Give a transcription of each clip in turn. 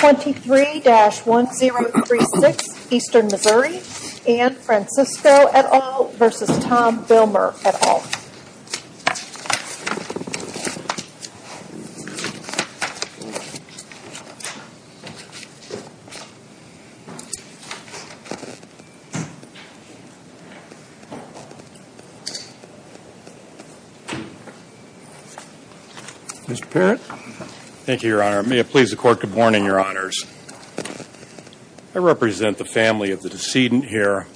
23-1036 Eastern Missouri and Francisco et al. v. Tom Villmer et al. May it please the Court, good morning, Your Honors. I represent the family of the decedent here,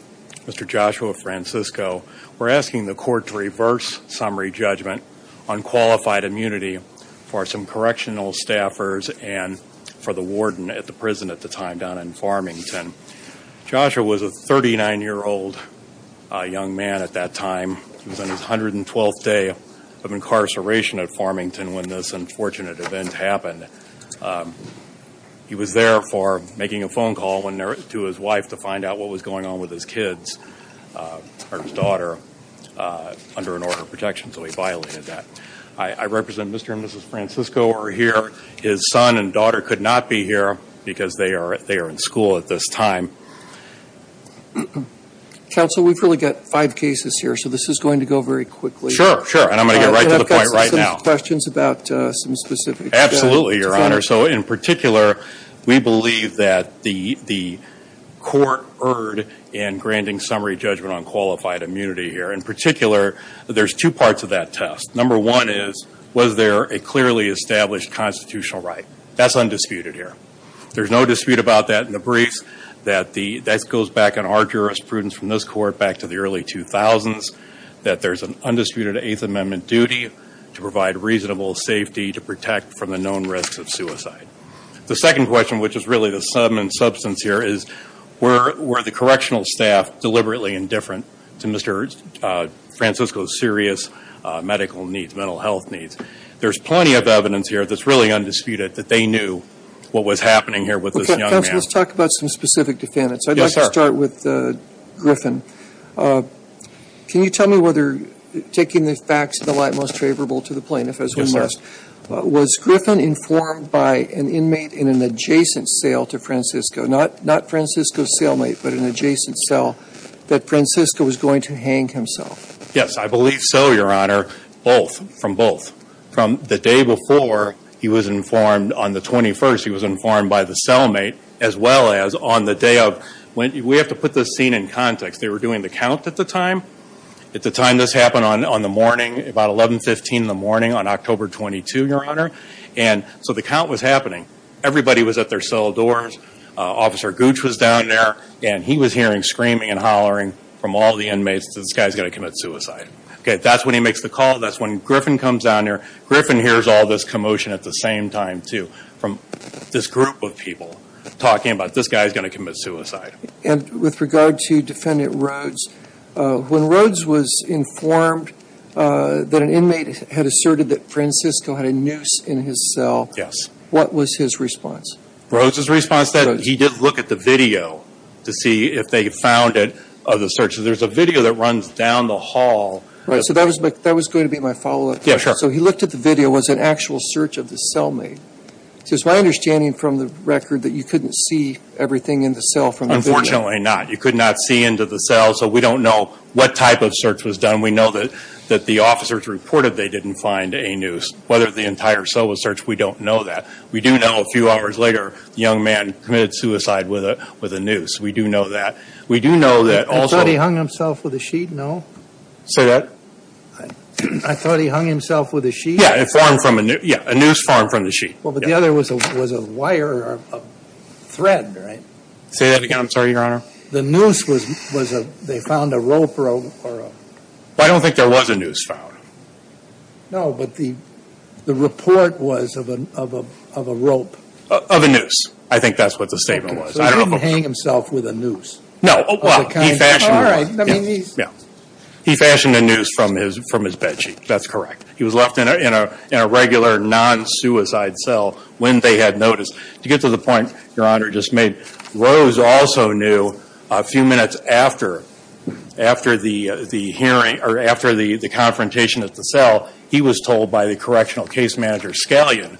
Mr. Joshua Francisco. We're asking the Court to reverse summary judgment on qualified immunity for some correctional staffers and for the warden at the prison at the time down in Farmington. Joshua was a 39-year-old young man at that time. He was on his 112th day of incarceration at Farmington when this unfortunate event happened. He was there for making a with his kids, or his daughter, under an order of protection, so he violated that. I represent Mr. and Mrs. Francisco who are here. His son and daughter could not be here because they are in school at this time. Counsel, we've really got five cases here, so this is going to go very quickly. Sure, sure, and I'm going to get right to the point right now. I've got some questions about some specifics. Absolutely, Your Honor. So in particular, we believe that the Court erred in granting summary judgment on qualified immunity here. In particular, there's two parts of that test. Number one is, was there a clearly established constitutional right? That's undisputed here. There's no dispute about that in the briefs. That goes back in our jurisprudence from this Court back to the early 2000s, that there's an undisputed Eighth Amendment duty to provide reasonable safety to protect from the known risks of substance here is, were the correctional staff deliberately indifferent to Mr. Francisco's serious medical needs, mental health needs? There's plenty of evidence here that's really undisputed that they knew what was happening here with this young man. Counsel, let's talk about some specific defendants. Yes, sir. I'd like to start with Griffin. Can you tell me whether, taking the facts of the light most favorable to the plaintiff as we must, was Griffin informed by an inmate in an adjacent cell to Francisco? Not Francisco's cellmate, but an adjacent cell that Francisco was going to hang himself? Yes, I believe so, Your Honor. Both. From both. From the day before he was informed on the 21st, he was informed by the cellmate, as well as on the day of. We have to put this scene in context. They were doing the count at the time. At the time this happened on the morning, about 11, 15 in the morning on October 22, Your Honor. So the count was happening. Everybody was at their cell doors. Officer Gooch was down there, and he was hearing screaming and hollering from all the inmates that this guy's going to commit suicide. That's when he makes the call. That's when Griffin comes down there. Griffin hears all this commotion at the same time, too, from this group of people talking about this guy's going to commit suicide. With regard to Defendant Rhodes, when Rhodes was informed that an inmate had asserted that Francisco had a noose in his cell, what was his response? Rhodes' response was that he did look at the video to see if they found it of the search. There's a video that runs down the hall. Right, so that was going to be my follow-up. Yeah, sure. So he looked at the video. Was it an actual search of the cellmate? It's my understanding from the record that you couldn't see everything in the cell from the video. Unfortunately not. You could not see into the cell, so we don't know what type of search was done. We know that the officers reported they didn't find a noose. Whether the entire cell was searched, we don't know that. We do know a few hours later, the young man committed suicide with a noose. We do know that. We do know that also... You thought he hung himself with a sheet? No. Say that. I thought he hung himself with a sheet. Yeah, a noose formed from the sheet. Well, but the other was a wire or a thread, right? Say that again. I'm sorry, Your Honor. The noose was a... They found a rope or a... I don't think there was a noose found. No, but the report was of a rope. Of a noose. I think that's what the statement was. I don't know. So he didn't hang himself with a noose? No. Well, he fashioned... All right, I mean... He fashioned a noose from his bedsheet. That's correct. He was left in a regular non-suicide cell when they had noticed. To get to the point Your Honor just made, Rose also knew a few minutes after the hearing or after the confrontation at the cell, he was told by the correctional case manager, Scalion,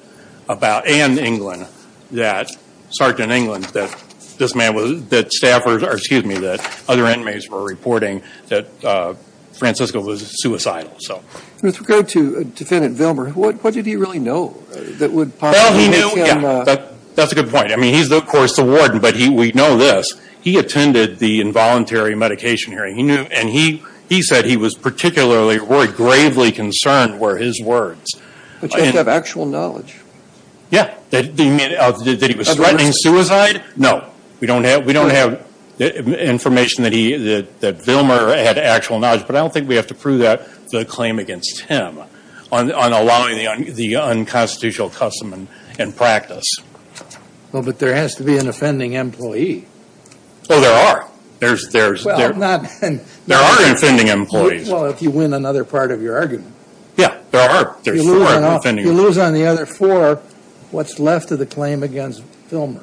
about... And England, that Sergeant England, that this man was... That staffers... Or excuse me, that other inmates were reporting that Francisco was suicidal. So... With regard to Defendant Vilmer, what did he really know that would possibly make him... Well, he knew... Yeah, that's a good point. I mean, he's of course the warden, but we know this. He attended the involuntary medication hearing. He knew... And he said he was particularly or gravely concerned were his words. But you don't have actual knowledge? Yeah, that he was threatening suicide? No. We don't have information that Vilmer had actual knowledge, but I don't think we have to prove that the claim against him on allowing the unconstitutional custom and practice. Well, but there has to be an offending employee. Oh, there are. There are offending employees. Well, if you win another part of your argument. Yeah, there are. There's four offending employees. You lose on the other four what's left of the claim against Vilmer.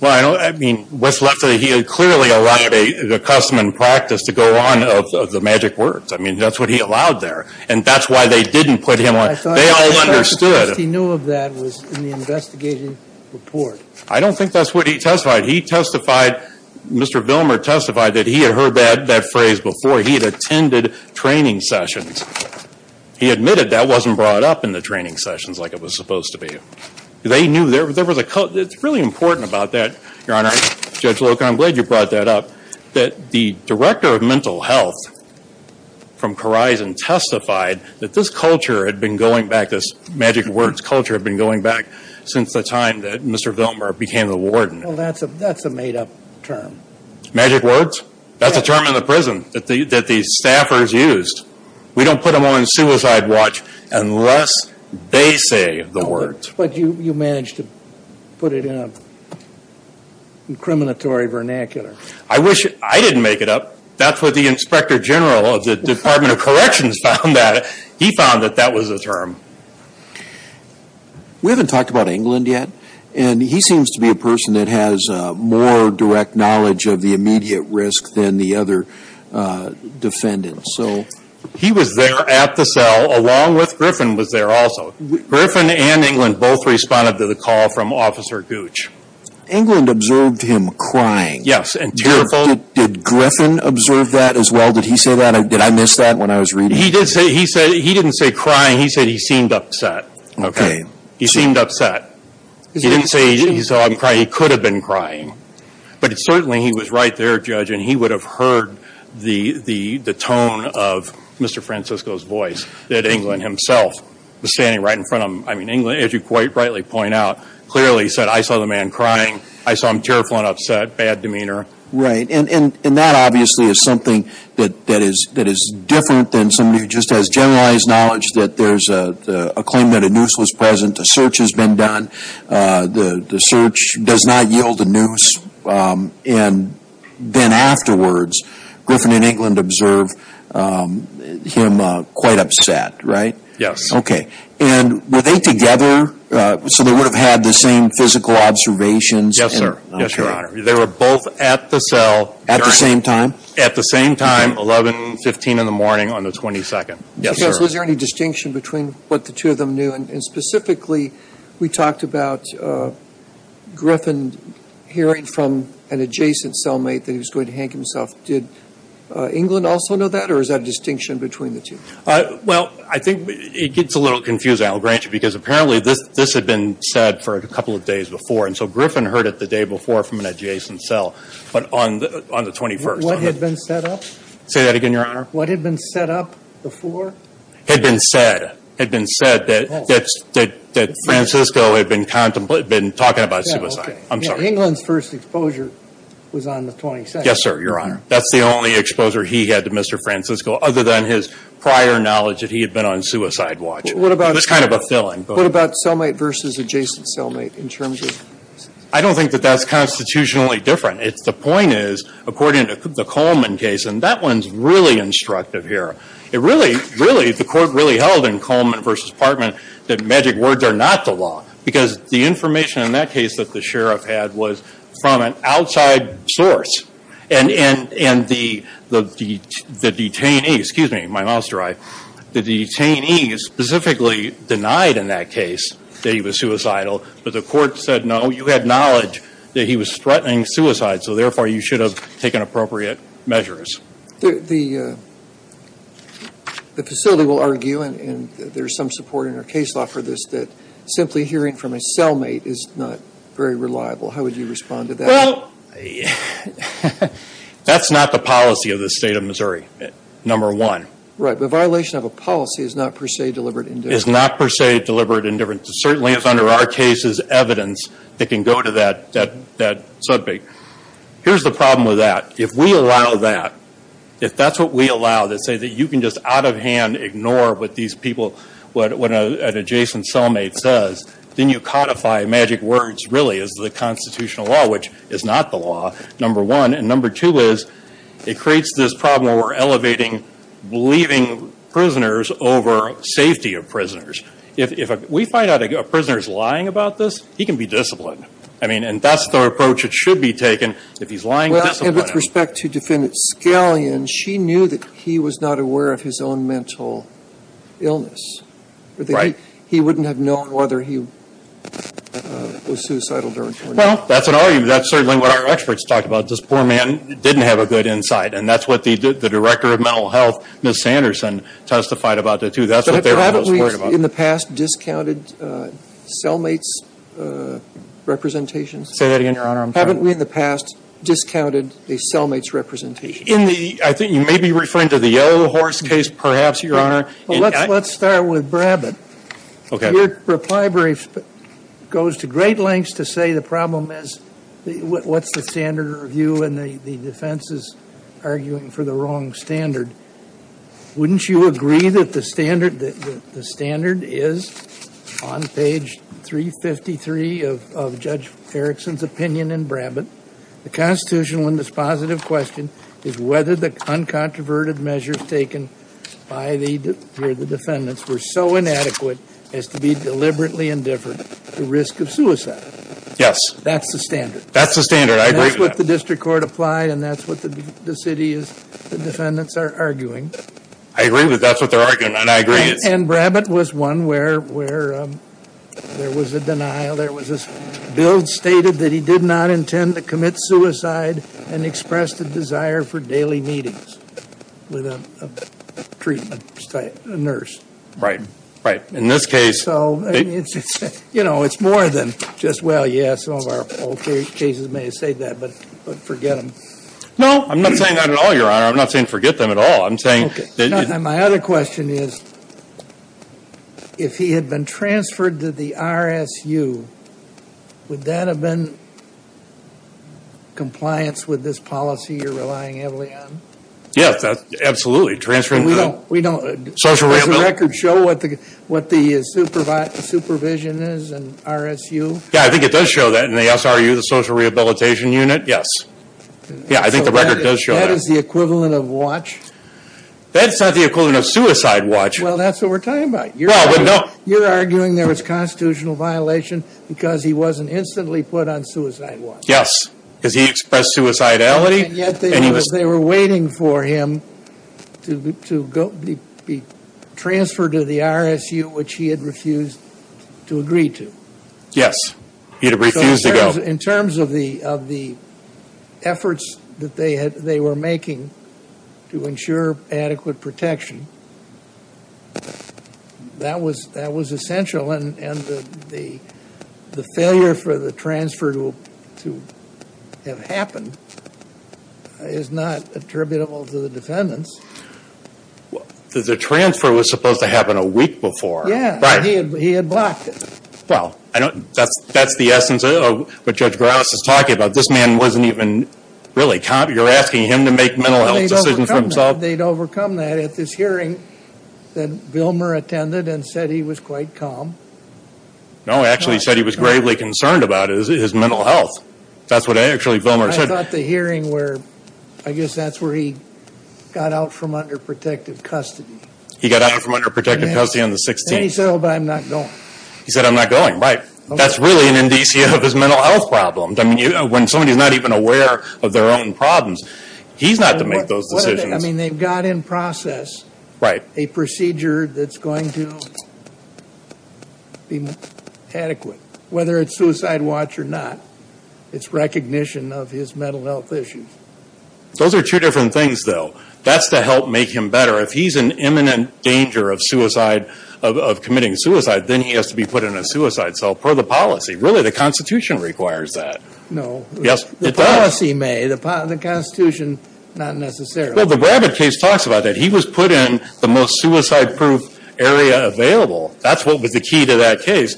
Well, I don't... I mean, what's left of the... He had clearly allowed the custom and practice to go on of the magic words. I mean, that's what he allowed there. And that's why they didn't put him on... They all understood. I thought the first place he knew of that was in the investigative report. I don't think that's what he testified. He testified... Mr. Vilmer testified that he had heard that phrase before. He had attended training sessions. He admitted that wasn't brought up in the training sessions like it was supposed to be. They knew there was a... It's really important about that, Your Honor. Judge Loker, I'm glad you brought that up. That the director of mental health from Corizon testified that this culture had been going back, this magic words culture had been going back since the time that Mr. Vilmer became the warden. Well, that's a made-up term. Magic words? That's a term in the prison that the staffers used. We don't put them on the suicide watch unless they say the words. But you managed to put it in a incriminatory vernacular. I wish... I didn't make it up. That's what the inspector general of the Department of Corrections found out. He found that that was a term. We haven't talked about England yet, and he seems to be a person that has more direct knowledge of the immediate risk than the other defendants. He was there at the cell along with Griffin was there also. Griffin and England both responded to the call from Officer Gooch. England observed him crying. Yes, and tearful. Did Griffin observe that as well? Did he say that? Did I miss that when I was reading? He didn't say crying. He said he seemed upset. Okay. He seemed upset. He didn't say he saw him cry. He could have been crying. But certainly he was right there, Judge, and he would have heard the tone of Mr. Francisco's voice, that England himself was standing right in front of him. I mean, England, as you quite rightly point out, clearly said, I saw the man crying. I saw him tearful and upset, bad demeanor. Right, and that obviously is something that is different than somebody who just has generalized knowledge that there's a claim that a noose was present, a search has been done. The search does not yield a noose. And then afterwards, Griffin and England observe him quite upset, right? Yes. Okay, and were they together? So they would have had the same physical observations? Yes, sir. Yes, Your Honor. They were both at the cell. At the same time? At the same time, 11, 15 in the morning on the 22nd. Yes, sir. Judge, was there any distinction between what the two of them knew? And specifically, we talked about Griffin hearing from an adjacent cellmate that he was going to hang himself. Did England also know that, or is that a distinction between the two? Well, I think it gets a little confusing, I'll grant you, because apparently this had been said for a couple of days before. And so Griffin heard it the day before from an adjacent cell, but on the 21st. What had been set up? Say that again, Your Honor. What had been set up before? Had been said. Had been said that Francisco had been talking about suicide. I'm sorry. England's first exposure was on the 22nd. Yes, sir, Your Honor. That's the only exposure he had to Mr. Francisco, other than his prior knowledge that he had been on suicide watch. It was kind of a filling. What about cellmate versus adjacent cellmate in terms of? I don't think that that's constitutionally different. The point is, according to the Coleman case, and that one's really instructive here. It really, really, the court really held in Coleman versus Partman that magic words are not the law. Because the information in that case that the sheriff had was from an outside source. And the detainee, excuse me, my mouth's dry, the detainee specifically denied in that case that he was suicidal. But the court said, no, you had knowledge that he was threatening suicide. So, therefore, you should have taken appropriate measures. The facility will argue, and there's some support in our case law for this, that simply hearing from a cellmate is not very reliable. How would you respond to that? Well, that's not the policy of the State of Missouri, number one. Right, but violation of a policy is not per se deliberate indifference. Is not per se deliberate indifference. It certainly is under our case's evidence that can go to that subject. Here's the problem with that. If we allow that, if that's what we allow, that say that you can just out of hand ignore what these people, what an adjacent cellmate says, then you codify magic words really as the constitutional law, which is not the law, number one. And number two is, it creates this problem where we're elevating leaving prisoners over safety of prisoners. Which, if we find out a prisoner is lying about this, he can be disciplined. I mean, and that's the approach that should be taken, if he's lying, discipline him. Well, and with respect to defendant Scallion, she knew that he was not aware of his own mental illness. Right. He wouldn't have known whether he was suicidal during 20 years. Well, that's an argument. That's certainly what our experts talked about. This poor man didn't have a good insight. And that's what the Director of Mental Health, Ms. Sanderson, testified about that, too. That's what they were most worried about. But haven't we, in the past, discounted cellmate's representations? Say that again, Your Honor. Haven't we, in the past, discounted a cellmate's representation? In the – I think you may be referring to the Yellow Horse case, perhaps, Your Honor. Let's start with Brabbit. Okay. Your reply brief goes to great lengths to say the problem is, what's the standard review and the defense is arguing for the wrong standard. Wouldn't you agree that the standard is, on page 353 of Judge Erickson's opinion in Brabbit, the constitutional and dispositive question is whether the uncontroverted measures taken by the defendants were so inadequate as to be deliberately indifferent to risk of suicide. Yes. That's the standard. That's the standard. I agree with that. That's what the district court applied, and that's what the city is – the defendants are arguing. I agree that that's what they're arguing, and I agree. And Brabbit was one where there was a denial. There was this – Bill stated that he did not intend to commit suicide and expressed a desire for daily meetings with a treatment nurse. Right. Right. In this case – You know, it's more than just, well, yeah, some of our old cases may have said that, but forget them. No, I'm not saying that at all, Your Honor. I'm not saying forget them at all. I'm saying – My other question is, if he had been transferred to the RSU, would that have been compliance with this policy you're relying heavily on? Yes, absolutely. Does the record show what the supervision is in RSU? Yeah, I think it does show that in the SRU, the Social Rehabilitation Unit. Yes. Yeah, I think the record does show that. That is the equivalent of watch? That's not the equivalent of suicide watch. Well, that's what we're talking about. You're arguing there was constitutional violation because he wasn't instantly put on suicide watch. Yes, because he expressed suicidality. And yet they were waiting for him to be transferred to the RSU, which he had refused to agree to. Yes, he had refused to go. In terms of the efforts that they were making to ensure adequate protection, that was essential. And the failure for the transfer to have happened is not attributable to the defendants. The transfer was supposed to happen a week before, right? Yes, but he had blocked it. Well, that's the essence of what Judge Graves is talking about. This man wasn't even really calm. I thought they'd overcome that at this hearing that Vilmer attended and said he was quite calm. No, he actually said he was gravely concerned about his mental health. That's what actually Vilmer said. I thought the hearing where, I guess that's where he got out from under protective custody. He got out from under protective custody on the 16th. And he said, oh, but I'm not going. He said, I'm not going, right. That's really an indicia of his mental health problems. I mean, when somebody's not even aware of their own problems, he's not to make those decisions. I mean, they've got in process a procedure that's going to be adequate, whether it's suicide watch or not. It's recognition of his mental health issues. Those are two different things, though. That's to help make him better. If he's in imminent danger of committing suicide, then he has to be put in a suicide cell per the policy. Really, the Constitution requires that. No. Yes, it does. The policy may. The Constitution, not necessarily. Well, the Brabbit case talks about that. He was put in the most suicide-proof area available. That's what was the key to that case.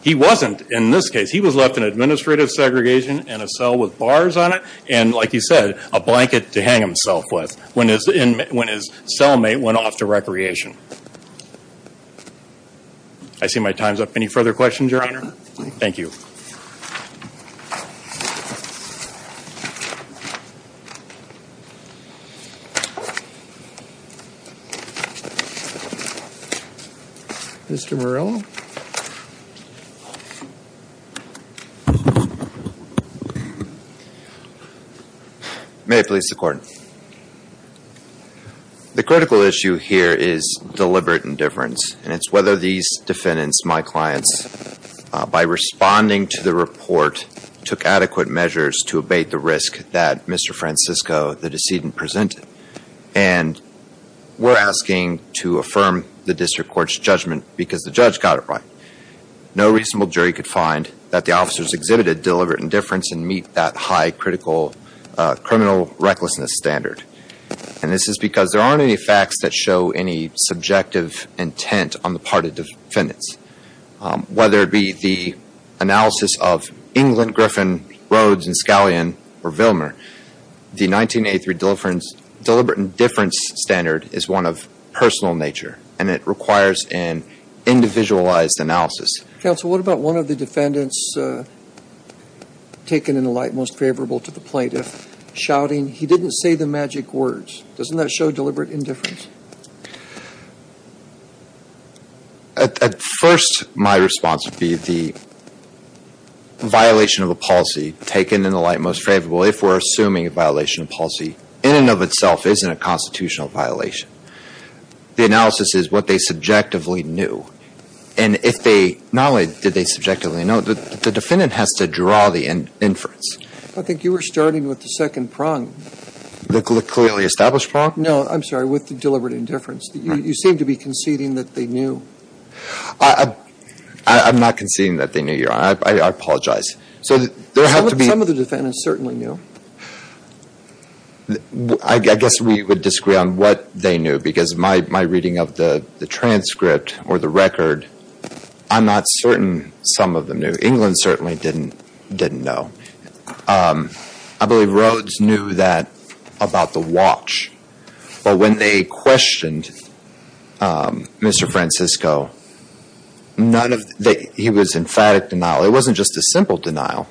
He wasn't in this case. He was left in administrative segregation in a cell with bars on it and, like he said, a blanket to hang himself with when his cellmate went off to recreation. I see my time's up. Any further questions, Your Honor? Thank you. Mr. Morello? May it please the Court. The critical issue here is deliberate indifference, and it's whether these defendants, my clients, by responding to the report, took adequate measures to abate the risk that Mr. Francisco, the decedent, presented. And we're asking to affirm the district court's judgment because the judge got it right. No reasonable jury could find that the officers exhibited deliberate indifference and meet that high critical criminal recklessness standard. And this is because there aren't any facts that show any subjective intent on the part of defendants. Whether it be the analysis of England, Griffin, Rhodes, and Scallion, or Vilmer, the 1983 deliberate indifference standard is one of personal nature, and it requires an individualized analysis. Counsel, what about one of the defendants taken in the light, most favorable to the plaintiff, shouting, he didn't say the magic words? Doesn't that show deliberate indifference? At first, my response would be the violation of a policy taken in the light most favorable, if we're assuming a violation of policy, in and of itself isn't a constitutional violation. The analysis is what they subjectively knew. And if they not only did they subjectively know, the defendant has to draw the inference. I think you were starting with the second prong. The clearly established prong? No, I'm sorry, with the deliberate indifference. You seem to be conceding that they knew. I'm not conceding that they knew, Your Honor. I apologize. Some of the defendants certainly knew. I guess we would disagree on what they knew because my reading of the transcript or the record, I'm not certain some of them knew. England certainly didn't know. I believe Rhodes knew that about the watch. But when they questioned Mr. Francisco, he was emphatic denial. It wasn't just a simple denial.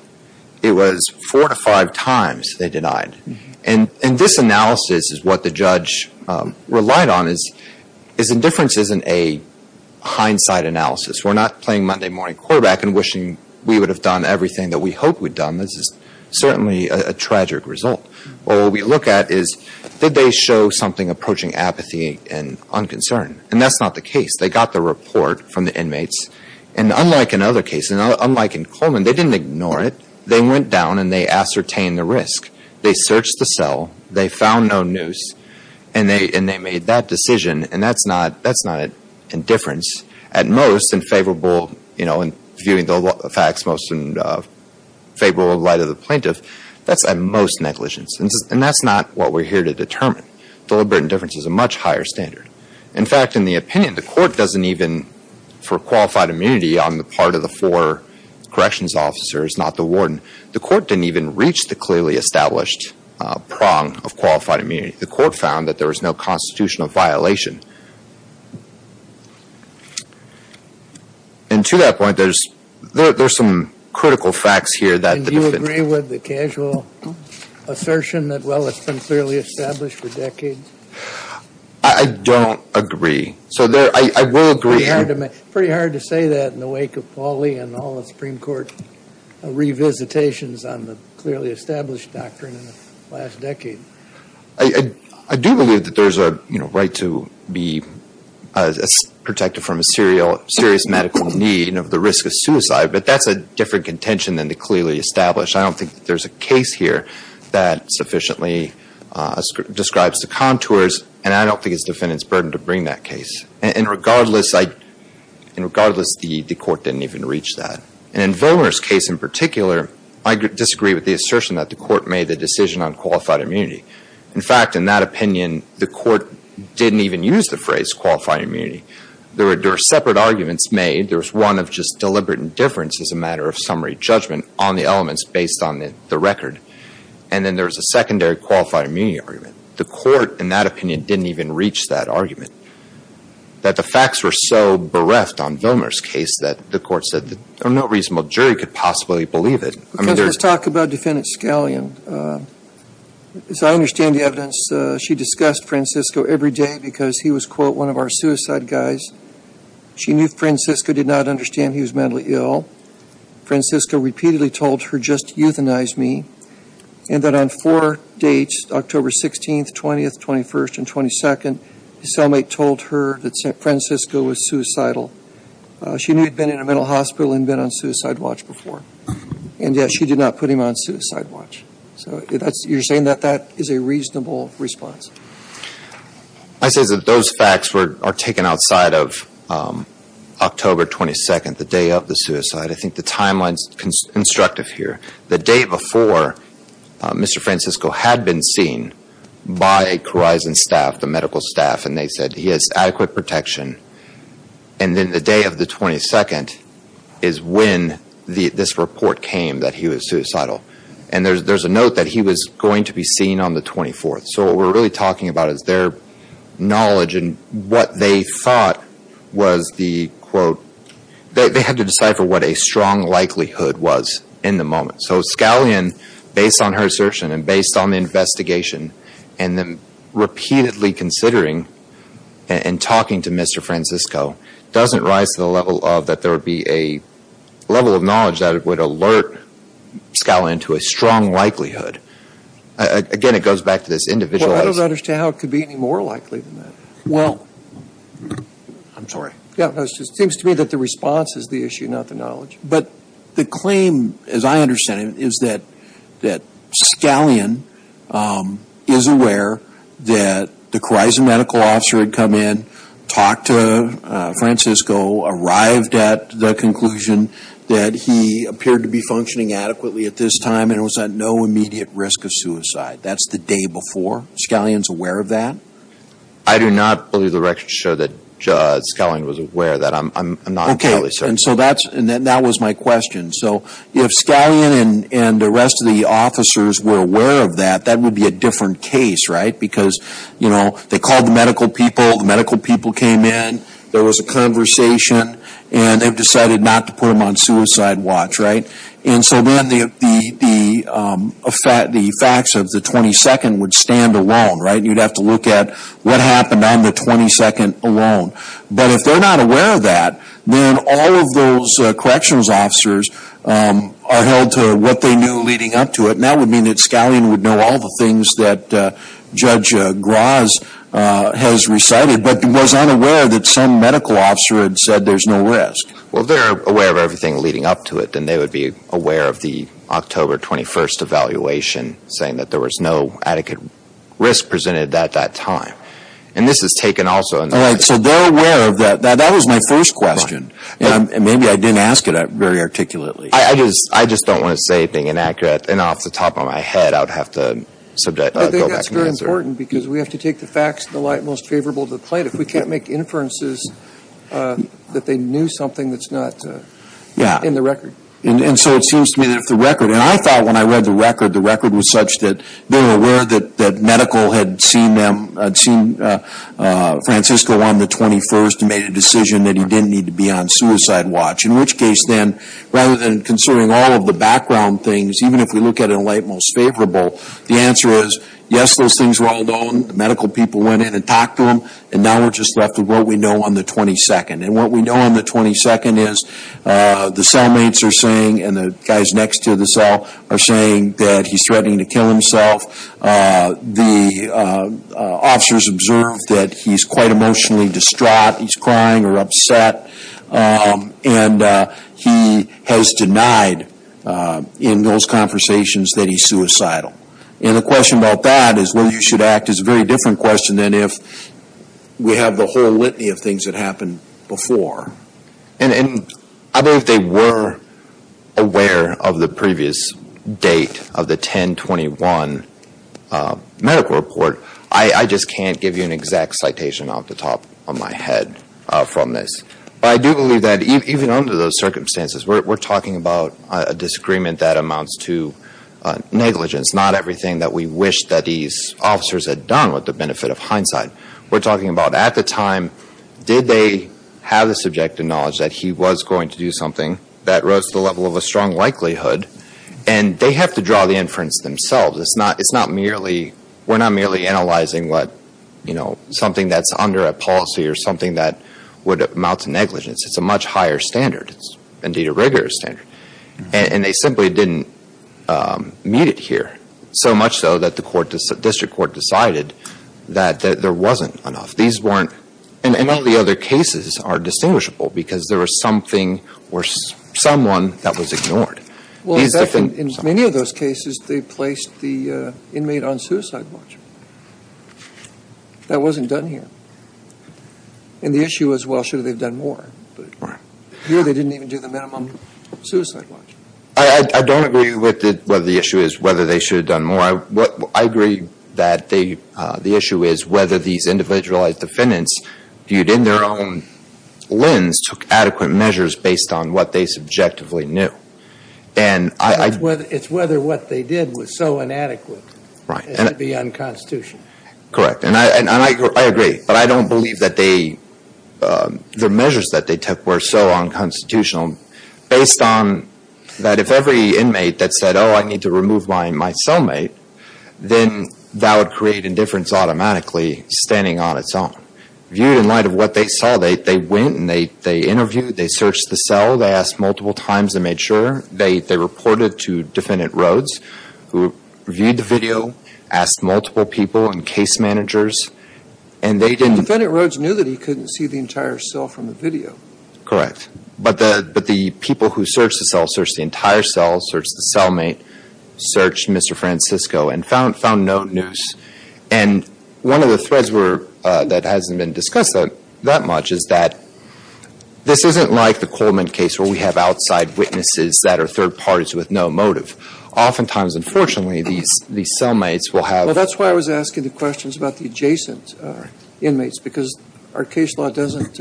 It was four to five times they denied. And this analysis is what the judge relied on is indifference isn't a hindsight analysis. We're not playing Monday morning quarterback and wishing we would have done everything that we hoped we'd done. This is certainly a tragic result. What we look at is did they show something approaching apathy and unconcern? And that's not the case. They got the report from the inmates. And unlike in other cases, unlike in Coleman, they didn't ignore it. They went down and they ascertained the risk. They searched the cell. They found no noose. And they made that decision. And that's not indifference at most. It's in favorable, you know, in viewing the facts most in favorable light of the plaintiff. That's at most negligence. And that's not what we're here to determine. Deliberate indifference is a much higher standard. In fact, in the opinion, the court doesn't even, for qualified immunity on the part of the four corrections officers, not the warden, the court didn't even reach the clearly established prong of qualified immunity. The court found that there was no constitutional violation. And to that point, there's some critical facts here. And do you agree with the casual assertion that, well, it's been clearly established for decades? I don't agree. So I will agree. Pretty hard to say that in the wake of Pauli and all the Supreme Court revisitations on the clearly established doctrine in the last decade. I do believe that there's a right to be protected from a serious medical need of the risk of suicide. But that's a different contention than the clearly established. I don't think there's a case here that sufficiently describes the contours. And I don't think it's the defendant's burden to bring that case. And regardless, the court didn't even reach that. And in Vollmer's case in particular, I disagree with the assertion that the court made the decision on qualified immunity. In fact, in that opinion, the court didn't even use the phrase qualified immunity. There were separate arguments made. There was one of just deliberate indifference as a matter of summary judgment on the elements based on the record. And then there was a secondary qualified immunity argument. And the court, in that opinion, didn't even reach that argument. That the facts were so bereft on Vollmer's case that the court said that no reasonable jury could possibly believe it. Let's talk about Defendant Scallion. As I understand the evidence, she discussed Francisco every day because he was, quote, one of our suicide guys. She knew Francisco did not understand he was mentally ill. Francisco repeatedly told her, just euthanize me. And that on four dates, October 16th, 20th, 21st, and 22nd, his cellmate told her that Francisco was suicidal. She knew he'd been in a mental hospital and been on suicide watch before. And yet she did not put him on suicide watch. So you're saying that that is a reasonable response? I say that those facts are taken outside of October 22nd, the day of the suicide. I think the timeline is constructive here. The day before, Mr. Francisco had been seen by Corizon staff, the medical staff. And they said he has adequate protection. And then the day of the 22nd is when this report came that he was suicidal. And there's a note that he was going to be seen on the 24th. So what we're really talking about is their knowledge and what they thought was the, quote, they had to decipher what a strong likelihood was in the moment. So Scallion, based on her assertion and based on the investigation, and them repeatedly considering and talking to Mr. Francisco, doesn't rise to the level of that there would be a level of knowledge that would alert Scallion to a strong likelihood. Again, it goes back to this individualized. Well, I don't understand how it could be any more likely than that. Well. I'm sorry. It seems to me that the response is the issue, not the knowledge. But the claim, as I understand it, is that Scallion is aware that the Corizon medical officer had come in, talked to Francisco, arrived at the conclusion that he appeared to be functioning adequately at this time and was at no immediate risk of suicide. That's the day before. Scallion is aware of that? I do not believe the record shows that Scallion was aware of that. I'm not entirely certain. Okay. And so that was my question. So if Scallion and the rest of the officers were aware of that, that would be a different case, right? Because, you know, they called the medical people. The medical people came in. There was a conversation. And they've decided not to put him on suicide watch, right? And so then the facts of the 22nd would stand alone, right? You'd have to look at what happened on the 22nd alone. But if they're not aware of that, then all of those corrections officers are held to what they knew leading up to it. And that would mean that Scallion would know all the things that Judge Graz has recited but was unaware that some medical officer had said there's no risk. Well, if they're aware of everything leading up to it, then they would be aware of the October 21st evaluation saying that there was no adequate risk presented at that time. And this is taken also in the record. All right. So they're aware of that. That was my first question. And maybe I didn't ask it very articulately. I just don't want to say anything inaccurate. And off the top of my head, I would have to go back and answer. I think that's very important because we have to take the facts in the light most favorable to the plaintiff. We can't make inferences that they knew something that's not in the record. Yeah. And so it seems to me that if the record, and I thought when I read the record, the record was such that they were aware that medical had seen Francisco on the 21st and made a decision that he didn't need to be on suicide watch. In which case then, rather than considering all of the background things, even if we look at it in the light most favorable, the answer is, yes, those things were all known. The medical people went in and talked to him. And now we're just left with what we know on the 22nd. And what we know on the 22nd is the cellmates are saying and the guys next to the cell are saying that he's threatening to kill himself. The officers observed that he's quite emotionally distraught. He's crying or upset. And he has denied in those conversations that he's suicidal. And the question about that is whether you should act is a very different question than if we have the whole litany of things that happened before. And I believe they were aware of the previous date of the 10-21 medical report. I just can't give you an exact citation off the top of my head from this. But I do believe that even under those circumstances, we're talking about a disagreement that amounts to negligence, not everything that we wish that these officers had done with the benefit of hindsight. We're talking about at the time, did they have the subjective knowledge that he was going to do something that rose to the level of a strong likelihood? And they have to draw the inference themselves. It's not merely, we're not merely analyzing what, you know, something that's under a policy or something that would amount to negligence. It's a much higher standard. It's, indeed, a regular standard. And they simply didn't meet it here, so much so that the court, the district court decided that there wasn't enough. These weren't, and all the other cases are distinguishable because there was something or someone that was ignored. These different… In many of those cases, they placed the inmate on suicide watch. That wasn't done here. And the issue is, well, should they have done more? Here, they didn't even do the minimum suicide watch. I don't agree with whether the issue is whether they should have done more. I agree that the issue is whether these individualized defendants viewed in their own lens took adequate measures based on what they subjectively knew. And I… It's whether what they did was so inadequate. Right. It would be unconstitutional. Correct. And I agree. But I don't believe that they… The measures that they took were so unconstitutional based on that if every inmate that said, oh, I need to remove my cellmate, then that would create indifference automatically standing on its own. Viewed in light of what they saw, they went and they interviewed, they searched the cell, they asked multiple times and made sure. They reported to Defendant Rhoades, who reviewed the video, asked multiple people and case managers, and they didn't… But Defendant Rhoades knew that he couldn't see the entire cell from the video. Correct. But the people who searched the cell, searched the entire cell, searched the cellmate, searched Mr. Francisco and found no noose. And one of the threads that hasn't been discussed that much is that this isn't like the Coleman case where we have outside witnesses that are third parties with no motive. Oftentimes, unfortunately, these cellmates will have… Well, that's why I was asking the questions about the adjacent inmates, because our case law doesn't,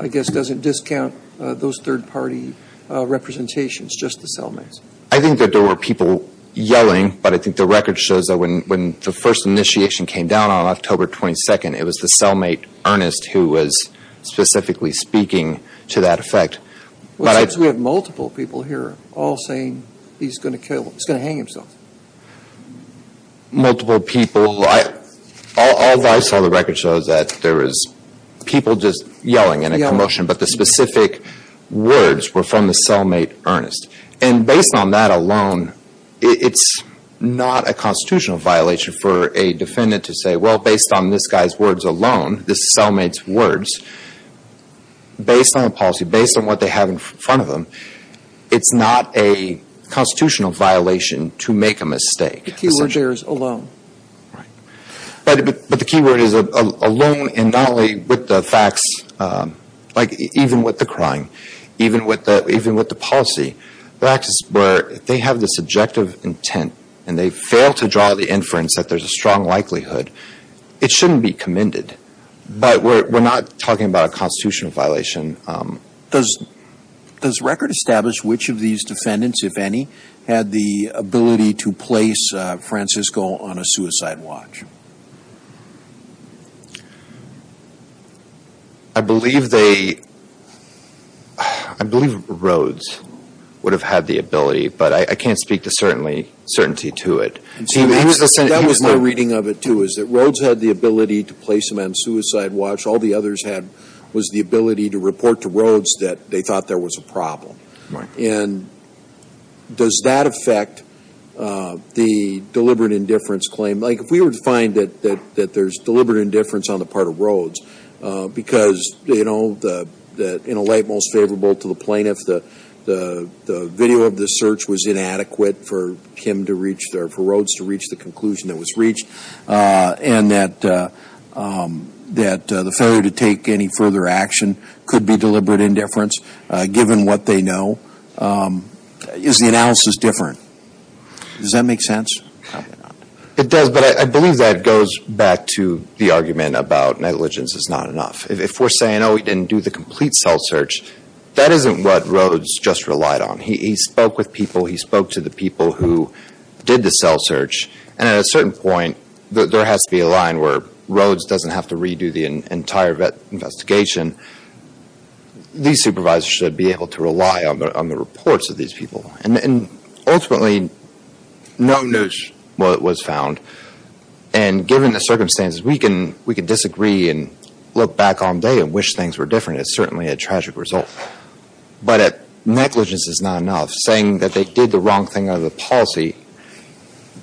I guess, doesn't discount those third-party representations, just the cellmates. I think that there were people yelling, but I think the record shows that when the first initiation came down on October 22nd, it was the cellmate, Ernest, who was specifically speaking to that effect. We have multiple people here all saying he's going to kill, he's going to hang himself. Multiple people. All that I saw in the record shows that there was people just yelling in a commotion, but the specific words were from the cellmate, Ernest. And based on that alone, it's not a constitutional violation for a defendant to say, well, based on this guy's words alone, this cellmate's words, based on the policy, based on what they have in front of them, it's not a constitutional violation to make a mistake. The key word there is alone. Right. But the key word is alone, and not only with the facts, like even with the crime, even with the policy. They have the subjective intent, and they fail to draw the inference that there's a strong likelihood. It shouldn't be commended. But we're not talking about a constitutional violation. Does record establish which of these defendants, if any, had the ability to place Francisco on a suicide watch? I believe they – I believe Rhodes would have had the ability, but I can't speak to certainty to it. That was my reading of it, too, is that Rhodes had the ability to place him on a suicide watch. All the others had was the ability to report to Rhodes that they thought there was a problem. Right. And does that affect the deliberate indifference claim? Like, if we were to find that there's deliberate indifference on the part of Rhodes, because, you know, in a light most favorable to the plaintiff, the video of the search was inadequate for Rhodes to reach the conclusion that was reached, and that the failure to take any further action could be deliberate indifference, given what they know. Is the analysis different? Does that make sense? It does, but I believe that goes back to the argument about negligence is not enough. If we're saying, oh, he didn't do the complete cell search, that isn't what Rhodes just relied on. He spoke with people. He spoke to the people who did the cell search, and at a certain point there has to be a line where Rhodes doesn't have to redo the entire investigation. These supervisors should be able to rely on the reports of these people. And ultimately, no one knows what was found. And given the circumstances, we can disagree and look back on day and wish things were different. It's certainly a tragic result. But negligence is not enough. Saying that they did the wrong thing under the policy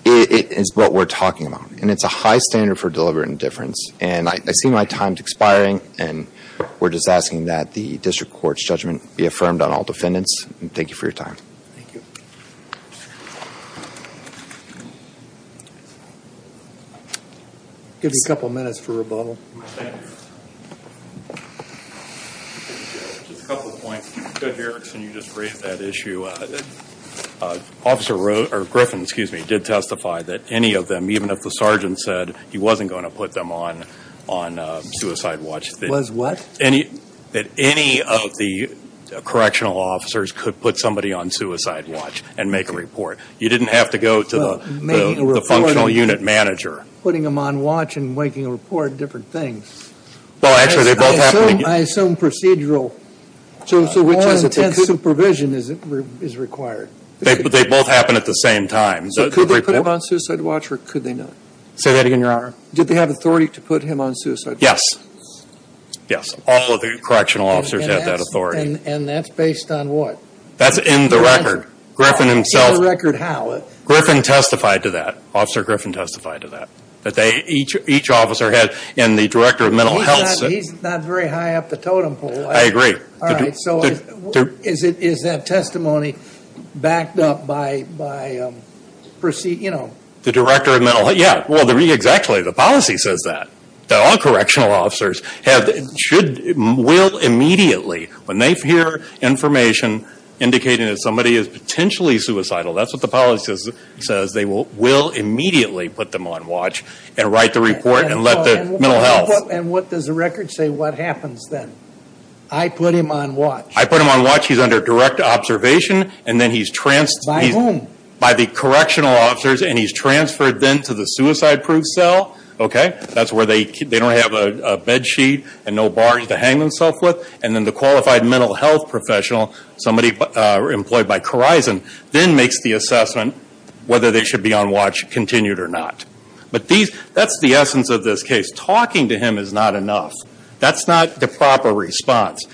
is what we're talking about, and it's a high standard for deliberate indifference. And I see my time expiring, and we're just asking that the district court's judgment be affirmed on all defendants. Thank you for your time. Thank you. Give me a couple of minutes for rebuttal. Thank you. Just a couple of points. Go ahead, Erickson. You just raised that issue. Griffin did testify that any of them, even if the sergeant said he wasn't going to put them on suicide watch. Was what? That any of the correctional officers could put somebody on suicide watch and make a report. You didn't have to go to the functional unit manager. Putting them on watch and making a report are different things. Well, actually, they both happen to be. I assume procedural, more intense supervision is required. They both happen at the same time. So could they put him on suicide watch or could they not? Say that again, Your Honor. Did they have authority to put him on suicide watch? Yes. Yes. All of the correctional officers have that authority. And that's based on what? That's in the record. Griffin himself. In the record how? Griffin testified to that. Officer Griffin testified to that. That each officer had and the director of mental health said. He's not very high up the totem pole. I agree. All right. So is that testimony backed up by, you know. The director of mental health. Yeah. Well, exactly. The policy says that. That all correctional officers will immediately. When they hear information indicating that somebody is potentially suicidal. That's what the policy says. They will immediately put them on watch. And write the report and let the mental health. And what does the record say what happens then? I put him on watch. I put him on watch. He's under direct observation. And then he's. By whom? By the correctional officers. And he's transferred then to the suicide proof cell. Okay. That's where they don't have a bed sheet. And no bars to hang themselves with. And then the qualified mental health professional. Somebody employed by Corizon. Then makes the assessment. Whether they should be on watch continued or not. But that's the essence of this case. Talking to him is not enough. That's not the proper response.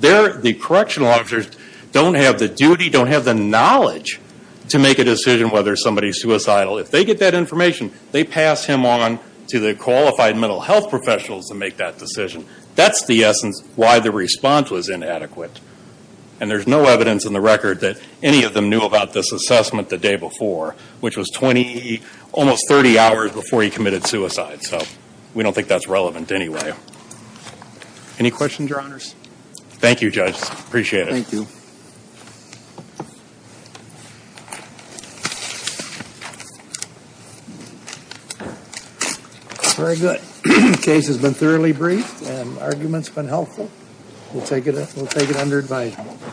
The correctional officers don't have the duty. Don't have the knowledge. To make a decision whether somebody is suicidal. If they get that information. They pass him on to the qualified mental health professionals. To make that decision. That's the essence. Why the response was inadequate. And there's no evidence in the record. That any of them knew about this assessment. The day before. Which was 20. Almost 30 hours before he committed suicide. So. We don't think that's relevant anyway. Any questions your honors? Thank you judge. Appreciate it. Thank you. Very good. Case has been thoroughly briefed. And arguments have been helpful. We'll take it under advisement.